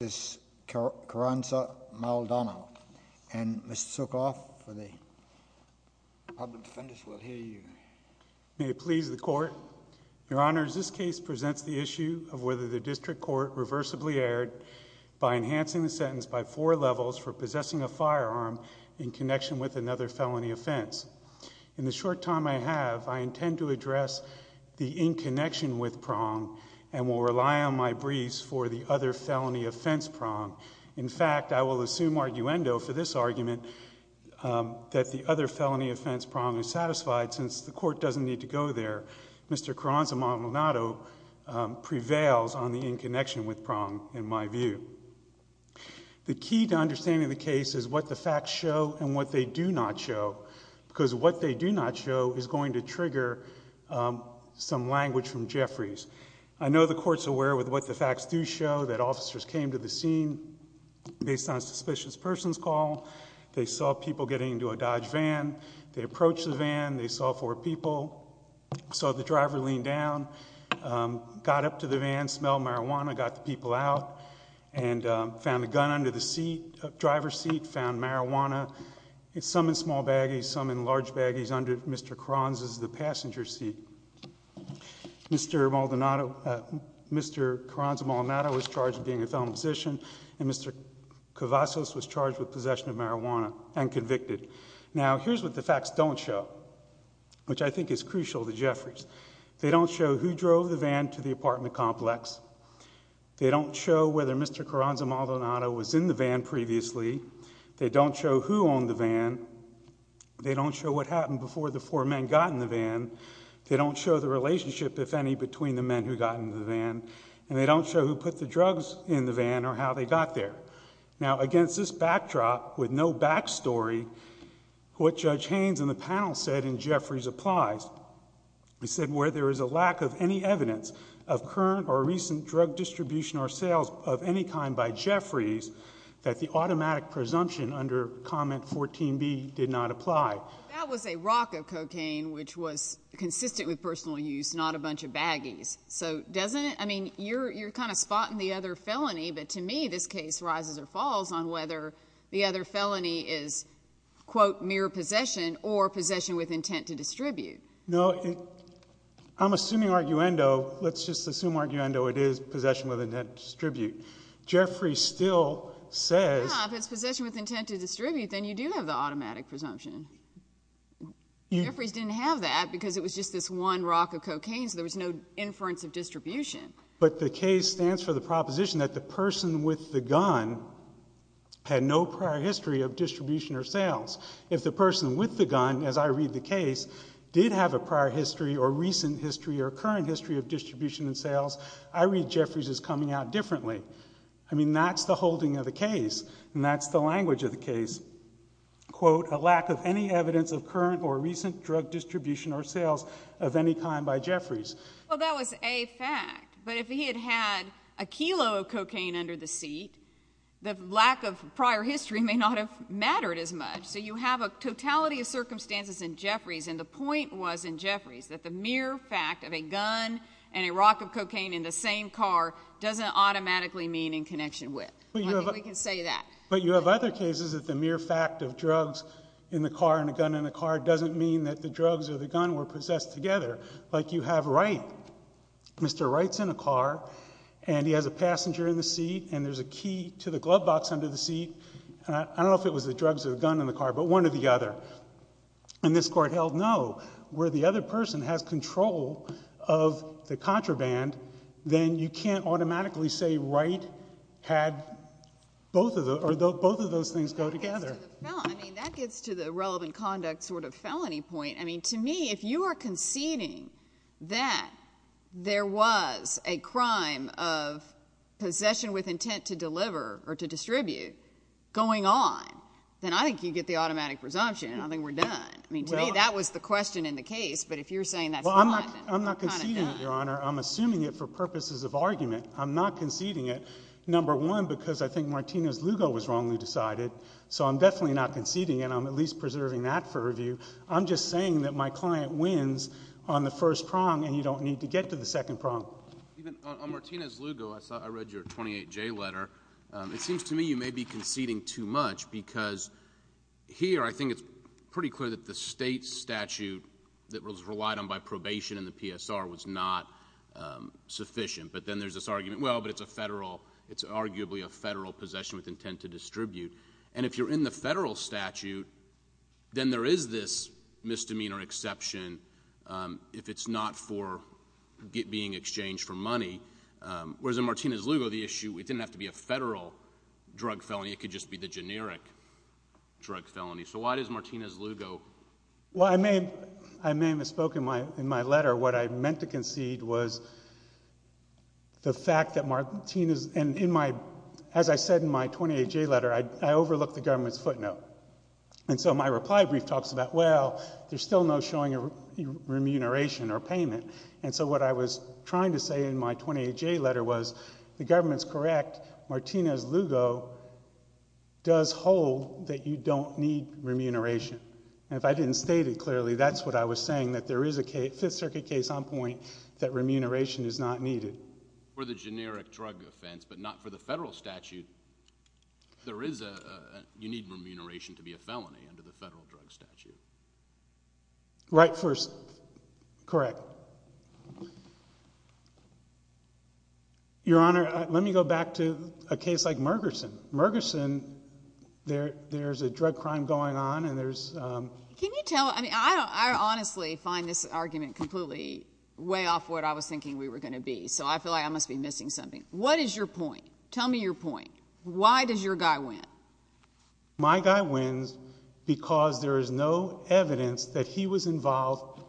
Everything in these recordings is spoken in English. and Mr. Sukoff for the public defenders will hear you. May it please the court, your honors this case presents the issue of whether the district court reversibly erred by enhancing the sentence by four levels for possessing a firearm in connection with another felony offense. In the short time I have, I intend to address the in connection with prong and will rely on my briefs for the other felony offense prong. In fact, I will assume arguendo for this argument that the other felony offense prong is satisfied since the court doesn't need to go there. Mr. Carranza-Maldonado prevails on the in connection with prong in my view. The key to understanding the case is what the facts show and what they do not show. Because what they do not show is going to trigger some language from Jeffries. I know the court's aware with what the facts do show that officers came to the scene based on a suspicious person's call. They saw people getting into a Dodge van. They approached the van. They saw four people. Saw the driver lean down. Got up to the van, smelled marijuana, got the people out, and found a gun under the driver's seat, found marijuana, some in small baggies, some in large baggies under Mr. Carranza's passenger seat. Mr. Carranza-Maldonado was charged with being a felon position, and Mr. Cavazos was charged with possession of marijuana and convicted. Now, here's what the facts don't show, which I think is crucial to Jeffries. They don't show who drove the van to the apartment complex. They don't show whether Mr. Carranza-Maldonado was in the van previously. They don't show who owned the van. They don't show what happened before the four men got in the van. They don't show the relationship, if any, between the men who got in the van. And they don't show who put the drugs in the van or how they got there. Now, against this backdrop, with no back story, what Judge Haynes and the panel said in Jeffries applies. He said where there is a lack of any evidence of current or recent drug distribution or sales of any kind by Jeffries, that the automatic presumption under comment 14B did not apply. That was a rock of cocaine, which was consistent with personal use, not a bunch of baggies. So doesn't it? I mean, you're kind of spotting the other felony, but to me this case rises or falls on whether the other felony is, quote, mere possession or possession with intent to distribute. No, I'm assuming arguendo. Let's just assume arguendo it is possession with intent to distribute. Jeffries still says— Well, if it's possession with intent to distribute, then you do have the automatic presumption. Jeffries didn't have that because it was just this one rock of cocaine, so there was no inference of distribution. But the case stands for the proposition that the person with the gun had no prior history of distribution or sales. If the person with the gun, as I read the case, did have a prior history or recent history or current history of distribution and sales, I read Jeffries as coming out differently. I mean, that's the holding of the case, and that's the language of the case. Quote, a lack of any evidence of current or recent drug distribution or sales of any kind by Jeffries. Well, that was a fact, but if he had had a kilo of cocaine under the seat, the lack of prior history may not have mattered as much. So you have a totality of circumstances in Jeffries, and the point was in Jeffries that the mere fact of a gun and a rock of cocaine in the same car doesn't automatically mean in connection with. I think we can say that. But you have other cases that the mere fact of drugs in the car and a gun in the car doesn't mean that the drugs or the gun were possessed together, like you have Wright. Mr. Wright's in a car, and he has a passenger in the seat, and there's a key to the glove box under the seat. I don't know if it was the drugs or the gun in the car, but one or the other. And this Court held no. Where the other person has control of the contraband, then you can't automatically say Wright had both of those things go together. I mean, that gets to the relevant conduct sort of felony point. I mean, to me, if you are conceding that there was a crime of possession with intent to deliver or to distribute going on, then I think you get the automatic presumption, and I think we're done. I mean, to me, that was the question in the case, but if you're saying that's not, then we're kind of done. Well, I'm not conceding it, Your Honor. I'm assuming it for purposes of argument. I'm not conceding it, number one, because I think Martinez-Lugo was wrongly decided, so I'm definitely not conceding, and I'm at least preserving that for review. I'm just saying that my client wins on the first prong, and you don't need to get to the second prong. On Martinez-Lugo, I read your 28J letter. It seems to me you may be conceding too much because here I think it's pretty clear that the state statute that was relied on by probation in the PSR was not sufficient. But then there's this argument, well, but it's a federal—it's arguably a federal possession with intent to distribute. And if you're in the federal statute, then there is this misdemeanor exception if it's not for being exchanged for money, whereas in Martinez-Lugo, the issue—it didn't have to be a federal drug felony. It could just be the generic drug felony. So why does Martinez-Lugo— Well, I may have misspoken in my letter. What I meant to concede was the fact that Martinez—and in my—as I said in my 28J letter, I overlooked the government's footnote. And so my reply brief talks about, well, there's still no showing remuneration or payment. And so what I was trying to say in my 28J letter was the government's correct. Martinez-Lugo does hold that you don't need remuneration. And if I didn't state it clearly, that's what I was saying, that there is a Fifth Circuit case on point that remuneration is not needed. For the generic drug offense but not for the federal statute, there is a—you need remuneration to be a felony under the federal drug statute. Right first. Correct. Your Honor, let me go back to a case like Mergerson. Mergerson, there's a drug crime going on, and there's— Can you tell—I mean, I honestly find this argument completely way off what I was thinking we were going to be. So I feel like I must be missing something. What is your point? Tell me your point. Why does your guy win? My guy wins because there is no evidence that he was involved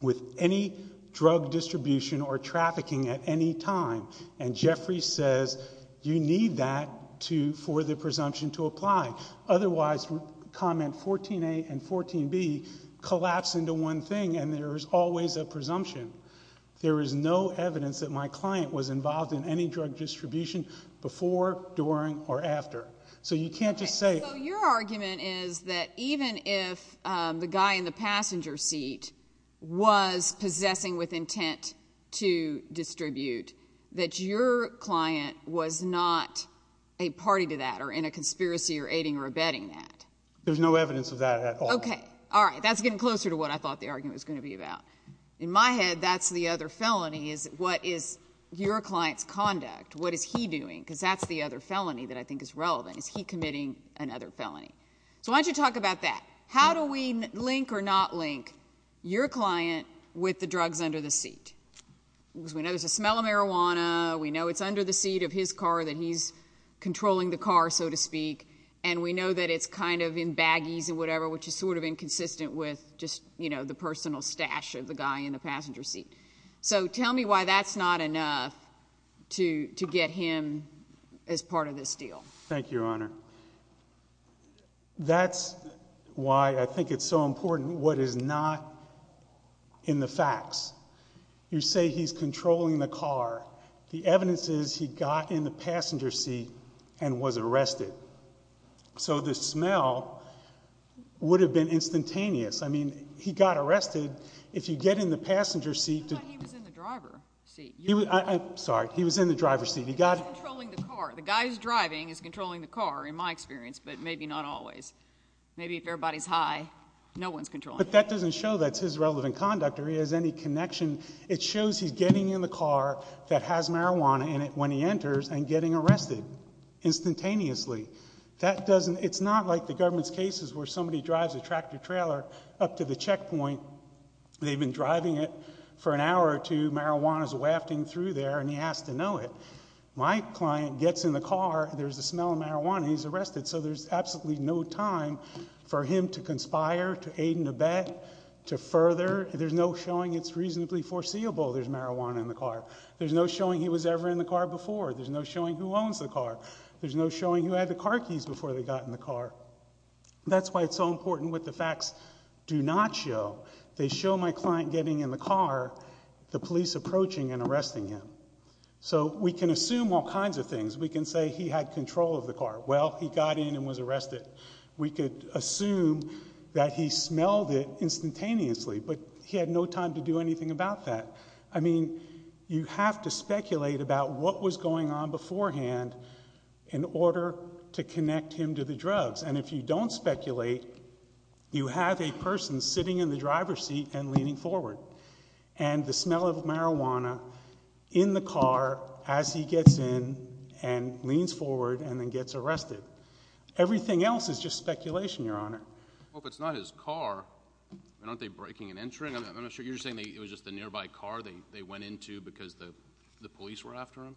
with any drug distribution or trafficking at any time. And Jeffrey says you need that for the presumption to apply. Otherwise, comment 14A and 14B collapse into one thing, and there is always a presumption. There is no evidence that my client was involved in any drug distribution before, during, or after. So you can't just say— So your argument is that even if the guy in the passenger seat was possessing with intent to distribute, that your client was not a party to that or in a conspiracy or aiding or abetting that. There's no evidence of that at all. Okay. All right. That's getting closer to what I thought the argument was going to be about. In my head, that's the other felony is what is your client's conduct. What is he doing? Because that's the other felony that I think is relevant. Is he committing another felony? So why don't you talk about that. How do we link or not link your client with the drugs under the seat? Because we know there's a smell of marijuana. We know it's under the seat of his car that he's controlling the car, so to speak. And we know that it's kind of in baggies and whatever, which is sort of inconsistent with just the personal stash of the guy in the passenger seat. So tell me why that's not enough to get him as part of this deal. Thank you, Your Honor. That's why I think it's so important what is not in the facts. You say he's controlling the car. The evidence is he got in the passenger seat and was arrested. So the smell would have been instantaneous. I mean, he got arrested. If you get in the passenger seat. I thought he was in the driver's seat. Sorry. He was in the driver's seat. He's controlling the car. The guy who's driving is controlling the car, in my experience, but maybe not always. Maybe if everybody's high, no one's controlling. But that doesn't show that's his relevant conduct or he has any connection. It shows he's getting in the car that has marijuana in it when he enters and getting arrested instantaneously. It's not like the government's cases where somebody drives a tractor-trailer up to the checkpoint. They've been driving it for an hour or two. Marijuana's wafting through there, and he has to know it. My client gets in the car. There's the smell of marijuana. He's arrested. So there's absolutely no time for him to conspire, to aid and abet, to further. There's no showing it's reasonably foreseeable there's marijuana in the car. There's no showing he was ever in the car before. There's no showing who owns the car. There's no showing who had the car keys before they got in the car. That's why it's so important what the facts do not show. They show my client getting in the car, the police approaching and arresting him. So we can assume all kinds of things. We can say he had control of the car. Well, he got in and was arrested. We could assume that he smelled it instantaneously, but he had no time to do anything about that. I mean, you have to speculate about what was going on beforehand in order to connect him to the drugs. And if you don't speculate, you have a person sitting in the driver's seat and leaning forward. And the smell of marijuana in the car as he gets in and leans forward and then gets arrested. Everything else is just speculation, Your Honor. Well, if it's not his car, aren't they breaking and entering? You're saying it was just a nearby car they went into because the police were after him?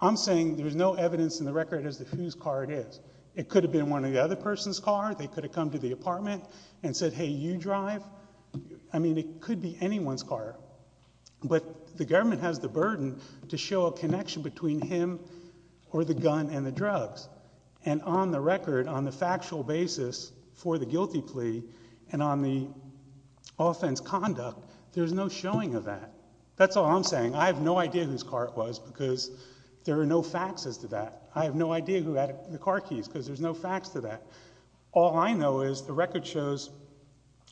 I'm saying there's no evidence in the record as to whose car it is. It could have been one of the other person's car. They could have come to the apartment and said, hey, you drive. I mean, it could be anyone's car. But the government has the burden to show a connection between him or the gun and the drugs. And on the record, on the factual basis for the guilty plea and on the offense conduct, there's no showing of that. That's all I'm saying. I have no idea whose car it was because there are no facts as to that. I have no idea who had the car keys because there's no facts to that. All I know is the record shows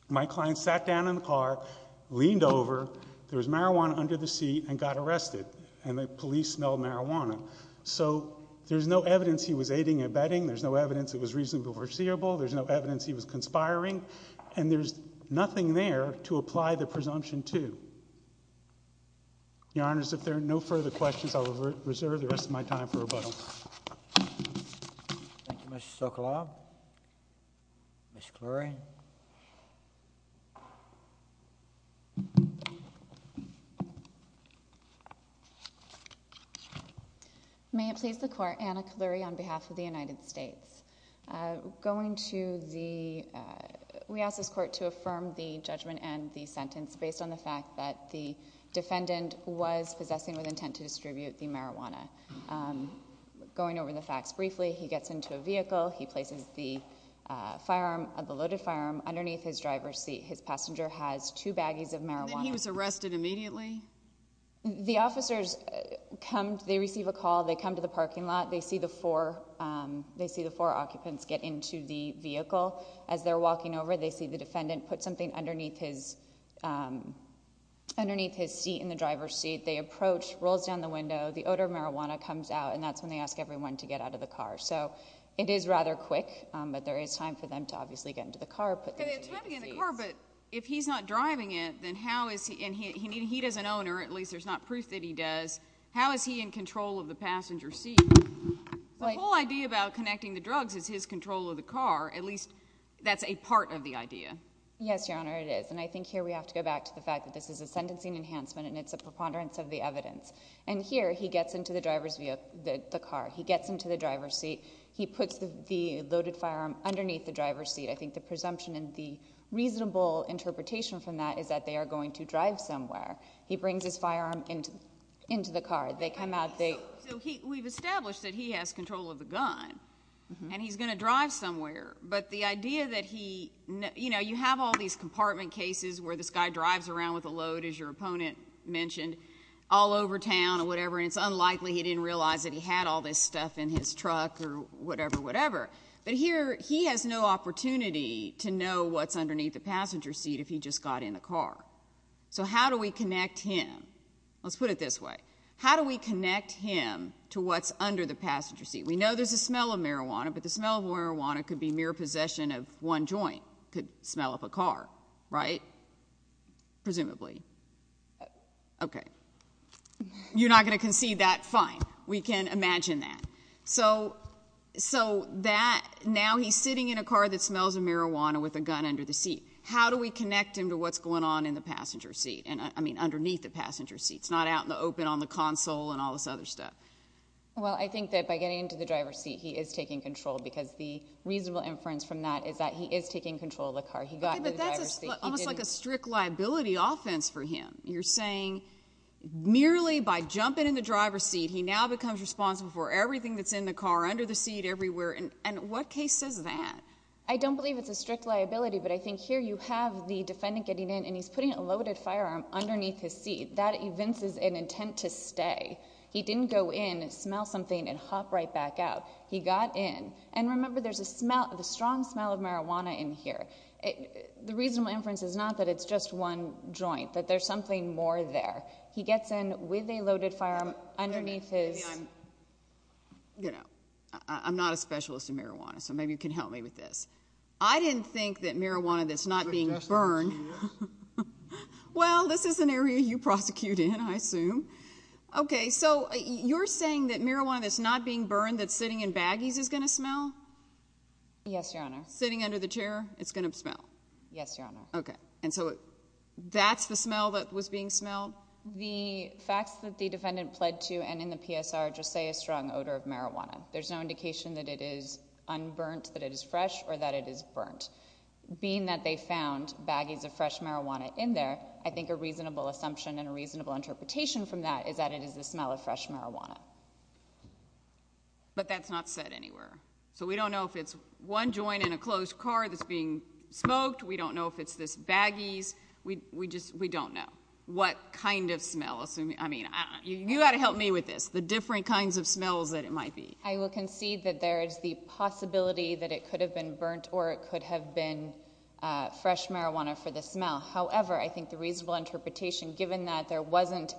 my client sat down in the car, leaned over, there was marijuana under the seat, and got arrested. And the police smelled marijuana. So there's no evidence he was aiding and abetting. There's no evidence it was reasonably foreseeable. There's no evidence he was conspiring. And there's nothing there to apply the presumption to. Your Honors, if there are no further questions, I'll reserve the rest of my time for rebuttal. Thank you, Mr. Sokolov. Ms. Clurie. May it please the Court, Anna Clurie on behalf of the United States. Going to the—we ask this Court to affirm the judgment and the sentence based on the fact that the defendant was possessing with intent to distribute the marijuana. Going over the facts briefly, he gets into a vehicle. He places the firearm, the loaded firearm, underneath his driver's seat. His passenger has two baggies of marijuana. And then he was arrested immediately? The officers come—they receive a call. They come to the parking lot. They see the four occupants get into the vehicle. As they're walking over, they see the defendant put something underneath his seat in the driver's seat. They approach, rolls down the window. The odor of marijuana comes out, and that's when they ask everyone to get out of the car. So it is rather quick, but there is time for them to obviously get into the car, put things in their seats. They have time to get in the car, but if he's not driving it, then how is he—and he does an owner. At least there's not proof that he does. How is he in control of the passenger seat? The whole idea about connecting the drugs is his control of the car. At least that's a part of the idea. Yes, Your Honor, it is. And I think here we have to go back to the fact that this is a sentencing enhancement, and it's a preponderance of the evidence. And here he gets into the driver's—the car. He gets into the driver's seat. He puts the loaded firearm underneath the driver's seat. I think the presumption and the reasonable interpretation from that is that they are going to drive somewhere. He brings his firearm into the car. They come out. So we've established that he has control of the gun, and he's going to drive somewhere. But the idea that he—you know, you have all these compartment cases where this guy drives around with a load, as your opponent mentioned, all over town or whatever, and it's unlikely he didn't realize that he had all this stuff in his truck or whatever, whatever. But here he has no opportunity to know what's underneath the passenger seat if he just got in the car. So how do we connect him? Let's put it this way. How do we connect him to what's under the passenger seat? We know there's a smell of marijuana, but the smell of marijuana could be mere possession of one joint. It could smell of a car, right? Presumably. Okay. You're not going to concede that? Fine. We can imagine that. So that—now he's sitting in a car that smells of marijuana with a gun under the seat. How do we connect him to what's going on in the passenger seat? I mean underneath the passenger seat. It's not out in the open on the console and all this other stuff. Well, I think that by getting into the driver's seat, he is taking control because the reasonable inference from that is that he is taking control of the car. He got into the driver's seat. Okay, but that's almost like a strict liability offense for him. You're saying merely by jumping in the driver's seat, he now becomes responsible for everything that's in the car, under the seat, everywhere. And what case says that? I don't believe it's a strict liability, but I think here you have the defendant getting in, and he's putting a loaded firearm underneath his seat. That evinces an intent to stay. He didn't go in, smell something, and hop right back out. He got in. And remember, there's a strong smell of marijuana in here. The reasonable inference is not that it's just one joint, that there's something more there. He gets in with a loaded firearm underneath his— You know, I'm not a specialist in marijuana, so maybe you can help me with this. I didn't think that marijuana that's not being burned— Well, this is an area you prosecute in, I assume. Okay, so you're saying that marijuana that's not being burned, that's sitting in baggies, is going to smell? Yes, Your Honor. Sitting under the chair, it's going to smell? Yes, Your Honor. Okay, and so that's the smell that was being smelled? The facts that the defendant pled to and in the PSR just say a strong odor of marijuana. There's no indication that it is unburnt, that it is fresh, or that it is burnt. Being that they found baggies of fresh marijuana in there, I think a reasonable assumption and a reasonable interpretation from that is that it is the smell of fresh marijuana. But that's not said anywhere. So we don't know if it's one joint in a closed car that's being smoked. We don't know if it's this baggies. We don't know what kind of smell. I mean, you've got to help me with this, the different kinds of smells that it might be. I will concede that there is the possibility that it could have been burnt, or it could have been fresh marijuana for the smell. However, I think the reasonable interpretation, given that there wasn't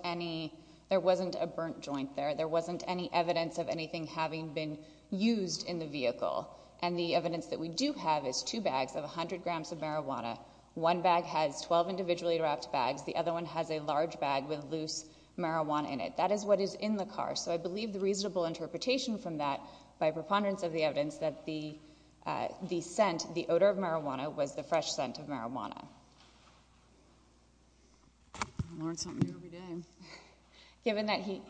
a burnt joint there, there wasn't any evidence of anything having been used in the vehicle, and the evidence that we do have is two bags of 100 grams of marijuana. One bag has 12 individually wrapped bags. The other one has a large bag with loose marijuana in it. That is what is in the car. So I believe the reasonable interpretation from that by preponderance of the evidence is that the scent, the odor of marijuana, was the fresh scent of marijuana. I learn something new every day. Given that he...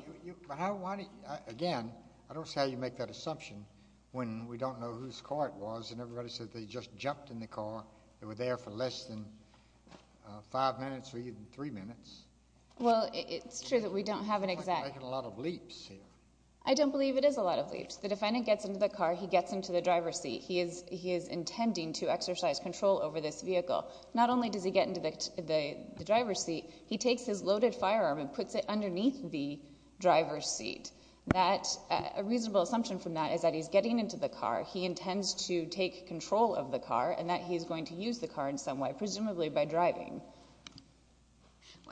Again, I don't see how you make that assumption when we don't know whose car it was and everybody says they just jumped in the car, they were there for less than five minutes or even three minutes. Well, it's true that we don't have an exact... We're making a lot of leaps here. I don't believe it is a lot of leaps. The defendant gets into the car. He gets into the driver's seat. He is intending to exercise control over this vehicle. Not only does he get into the driver's seat, he takes his loaded firearm and puts it underneath the driver's seat. A reasonable assumption from that is that he's getting into the car, he intends to take control of the car, and that he's going to use the car in some way, presumably by driving.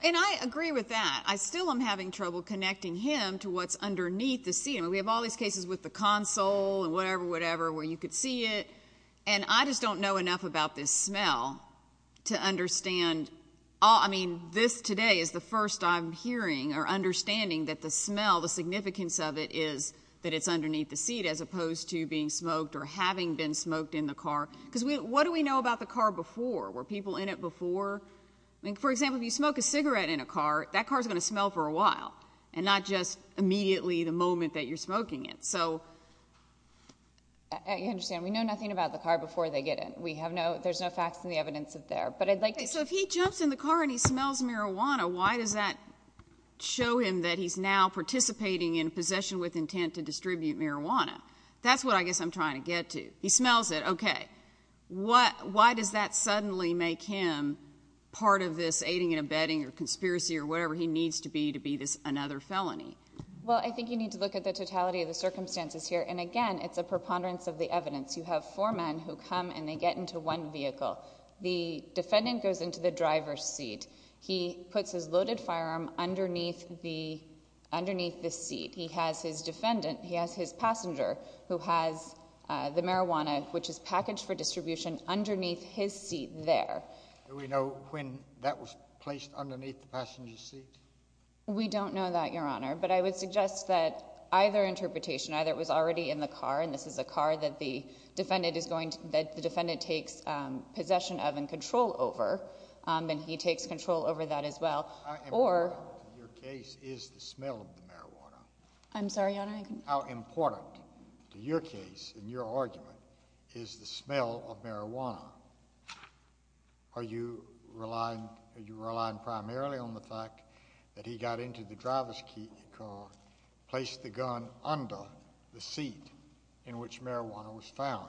And I agree with that. I still am having trouble connecting him to what's underneath the seat. I mean, we have all these cases with the console and whatever, whatever, where you could see it, and I just don't know enough about this smell to understand... I mean, this today is the first I'm hearing or understanding that the smell, the significance of it is that it's underneath the seat as opposed to being smoked or having been smoked in the car. Because what do we know about the car before? Were people in it before? I mean, for example, if you smoke a cigarette in a car, that car is going to smell for a while and not just immediately the moment that you're smoking it. So... I understand. We know nothing about the car before they get in. There's no facts in the evidence there. But I'd like to... So if he jumps in the car and he smells marijuana, why does that show him that he's now participating in possession with intent to distribute marijuana? That's what I guess I'm trying to get to. He smells it. Okay. Why does that suddenly make him part of this aiding and abetting or conspiracy or whatever he needs to be to be another felony? Well, I think you need to look at the totality of the circumstances here. And, again, it's a preponderance of the evidence. You have four men who come and they get into one vehicle. The defendant goes into the driver's seat. He puts his loaded firearm underneath the seat. He has his defendant, he has his passenger, who has the marijuana, which is packaged for distribution, underneath his seat there. Do we know when that was placed underneath the passenger's seat? We don't know that, Your Honor. But I would suggest that either interpretation, either it was already in the car, and this is a car that the defendant takes possession of and control over, and he takes control over that as well, or... How important to your case is the smell of the marijuana? I'm sorry, Your Honor? How important to your case and your argument is the smell of marijuana? Are you relying primarily on the fact that he got into the driver's car, placed the gun under the seat in which marijuana was found?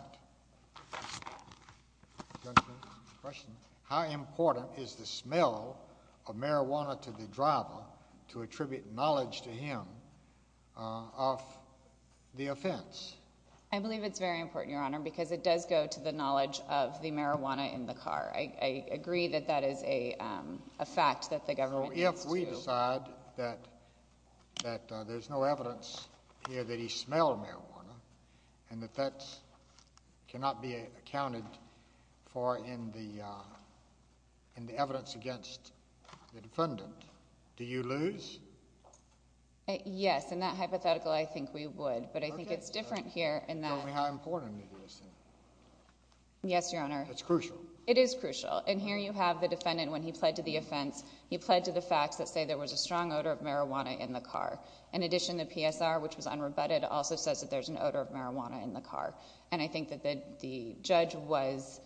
How important is the smell of marijuana to the driver to attribute knowledge to him of the offense? I believe it's very important, Your Honor, because it does go to the knowledge of the marijuana in the car. I agree that that is a fact that the government needs to... If we decide that there's no evidence here that he smelled marijuana and that that cannot be accounted for in the evidence against the defendant, do you lose? Yes. In that hypothetical, I think we would. But I think it's different here in that... Tell me how important it is. Yes, Your Honor. It's crucial. It is crucial. And here you have the defendant, when he pled to the offense, he pled to the facts that say there was a strong odor of marijuana in the car. In addition, the PSR, which was unrebutted, also says that there's an odor of marijuana in the car. And I think that the judge was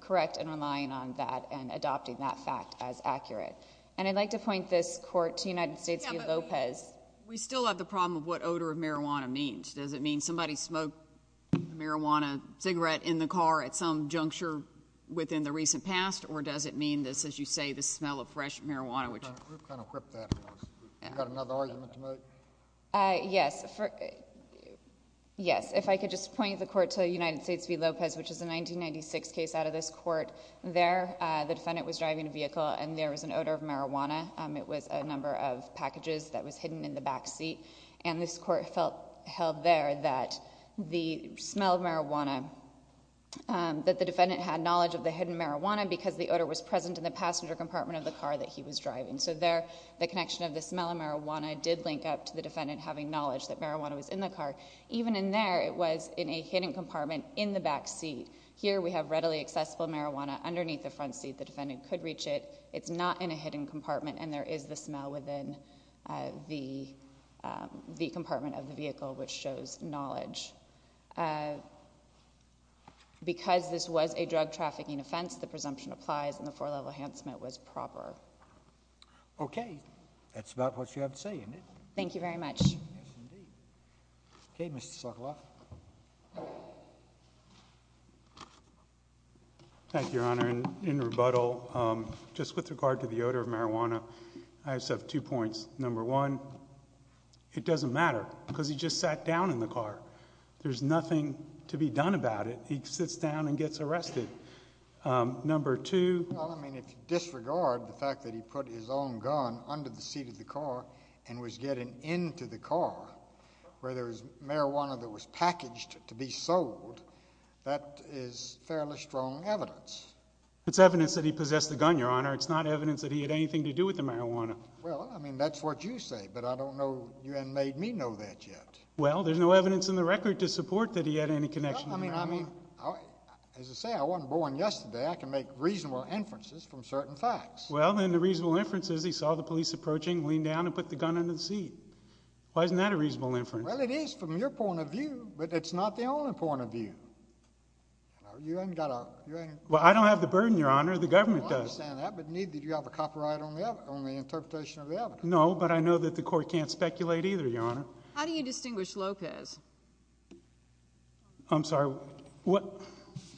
correct in relying on that and adopting that fact as accurate. And I'd like to point this court to United States v. Lopez. We still have the problem of what odor of marijuana means. Does it mean somebody smoked a marijuana cigarette in the car at some juncture within the recent past, or does it mean this, as you say, the smell of fresh marijuana? We've kind of quipped that. Do you have another argument to make? Yes. If I could just point the court to United States v. Lopez, which is a 1996 case out of this court. There the defendant was driving a vehicle, and there was an odor of marijuana. It was a number of packages that was hidden in the back seat. And this court held there that the smell of marijuana, that the defendant had knowledge of the hidden marijuana because the odor was present in the passenger compartment of the car that he was driving. So there the connection of the smell of marijuana did link up to the defendant having knowledge that marijuana was in the car. Even in there, it was in a hidden compartment in the back seat. Here we have readily accessible marijuana underneath the front seat. The defendant could reach it. It's not in a hidden compartment, and there is the smell within the compartment of the vehicle which shows knowledge. Because this was a drug trafficking offense, the presumption applies, and the four-level enhancement was proper. Okay. That's about what you have to say, isn't it? Thank you very much. Yes, indeed. Okay, Mr. Sokoloff. Thank you, Your Honor. In rebuttal, just with regard to the odor of marijuana, I just have two points. Number one, it doesn't matter because he just sat down in the car. There's nothing to be done about it. He sits down and gets arrested. Number two. Well, I mean, if you disregard the fact that he put his own gun under the seat of the car and was getting into the car where there was marijuana that was packaged to be sold, that is fairly strong evidence. It's evidence that he possessed the gun, Your Honor. It's not evidence that he had anything to do with the marijuana. Well, I mean, that's what you say, but I don't know. You haven't made me know that yet. Well, there's no evidence in the record to support that he had any connection to marijuana. I mean, as I say, I wasn't born yesterday. I can make reasonable inferences from certain facts. Well, then the reasonable inference is he saw the police approaching, leaned down, and put the gun under the seat. Why isn't that a reasonable inference? Well, it is from your point of view, but it's not the only point of view. You haven't got a... Well, I don't have the burden, Your Honor. The government does. I understand that, but neither do you have a copyright on the interpretation of the evidence. No, but I know that the court can't speculate either, Your Honor. How do you distinguish Lopez? I'm sorry.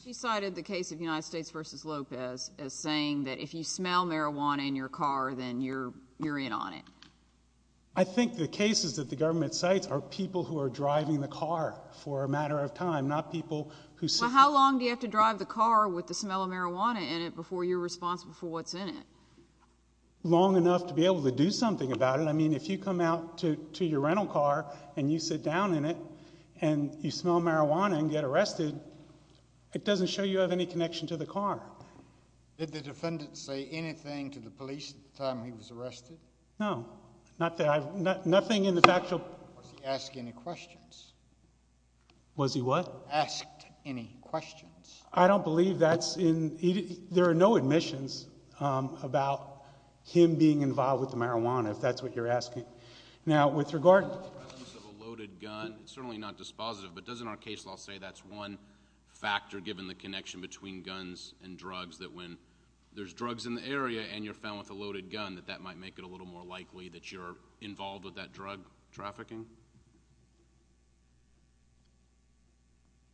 She cited the case of United States v. Lopez as saying that if you smell marijuana in your car, then you're in on it. I think the cases that the government cites are people who are driving the car for a matter of time, not people who... Well, how long do you have to drive the car with the smell of marijuana in it before you're responsible for what's in it? Long enough to be able to do something about it. I mean, if you come out to your rental car and you sit down in it and you smell marijuana and get arrested, it doesn't show you have any connection to the car. Did the defendant say anything to the police at the time he was arrested? No. Nothing in the factual... Was he asking any questions? Was he what? Asked any questions. I don't believe that's in... There are no admissions about him being involved with the marijuana, if that's what you're asking. Now, with regard... The presence of a loaded gun is certainly not dispositive, but doesn't our case law say that's one factor, given the connection between guns and drugs, that when there's drugs in the area and you're found with a loaded gun, that that might make it a little more likely that you're involved with that drug trafficking?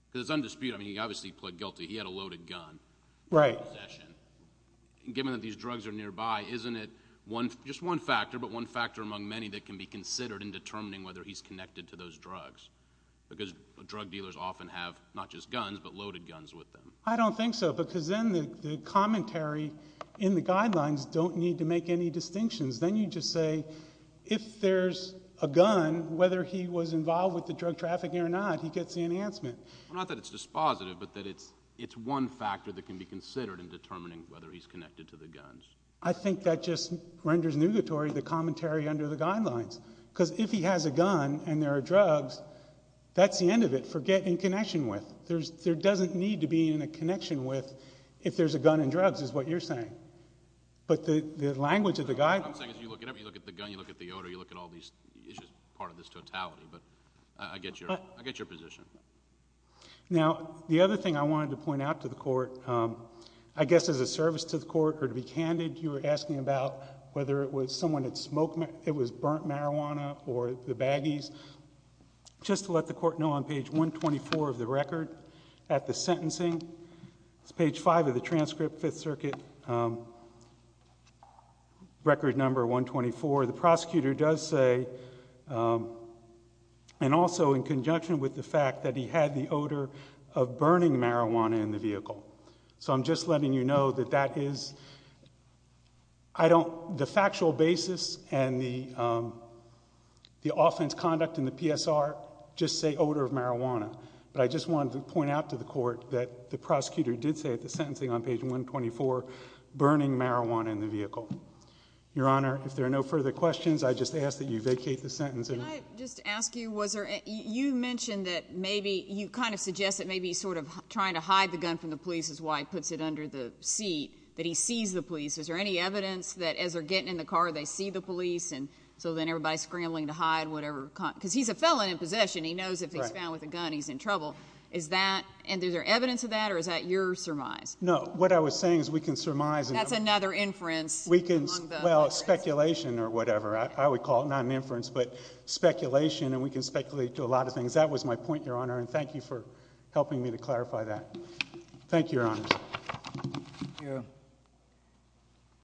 Because it's undisputed. I mean, he obviously pled guilty. He had a loaded gun. Right. Given that these drugs are nearby, isn't it just one factor, but one factor among many, that can be considered in determining whether he's connected to those drugs? Because drug dealers often have not just guns, but loaded guns with them. I don't think so, because then the commentary in the guidelines don't need to make any distinctions. Then you just say, if there's a gun, whether he was involved with the drug trafficking or not, he gets the enhancement. Not that it's dispositive, but that it's one factor that can be considered in determining whether he's connected to the guns. I think that just renders nugatory the commentary under the guidelines. Because if he has a gun and there are drugs, that's the end of it for getting in connection with. There doesn't need to be a connection with if there's a gun and drugs, is what you're saying. But the language of the guidelines. You look at the gun, you look at the odor, you look at all these issues, part of this totality. But I get your position. Now, the other thing I wanted to point out to the court, I guess as a service to the court or to be candid, you were asking about whether it was someone that smoked, it was burnt marijuana or the baggies. Just to let the court know, on page 124 of the record, at the sentencing, it's page 5 of the transcript, 5th Circuit, record number 124, the prosecutor does say, and also in conjunction with the fact, that he had the odor of burning marijuana in the vehicle. So I'm just letting you know that that is, I don't, the factual basis and the offense conduct in the PSR just say odor of marijuana. But I just wanted to point out to the court that the prosecutor did say at the sentencing on page 124, burning marijuana in the vehicle. Your Honor, if there are no further questions, I just ask that you vacate the sentence. Can I just ask you, was there, you mentioned that maybe, you kind of suggest that maybe he's sort of trying to hide the gun from the police, is why he puts it under the seat, that he sees the police. Is there any evidence that as they're getting in the car, they see the police, and so then everybody's scrambling to hide whatever, because he's a felon in possession, he knows if he's found with a gun, he's in trouble. Is that, and is there evidence of that, or is that your surmise? No, what I was saying is we can surmise. That's another inference. Well, speculation or whatever. I would call it not an inference, but speculation, and we can speculate to a lot of things. That was my point, Your Honor, and thank you for helping me to clarify that. Thank you, Your Honor. Thank you.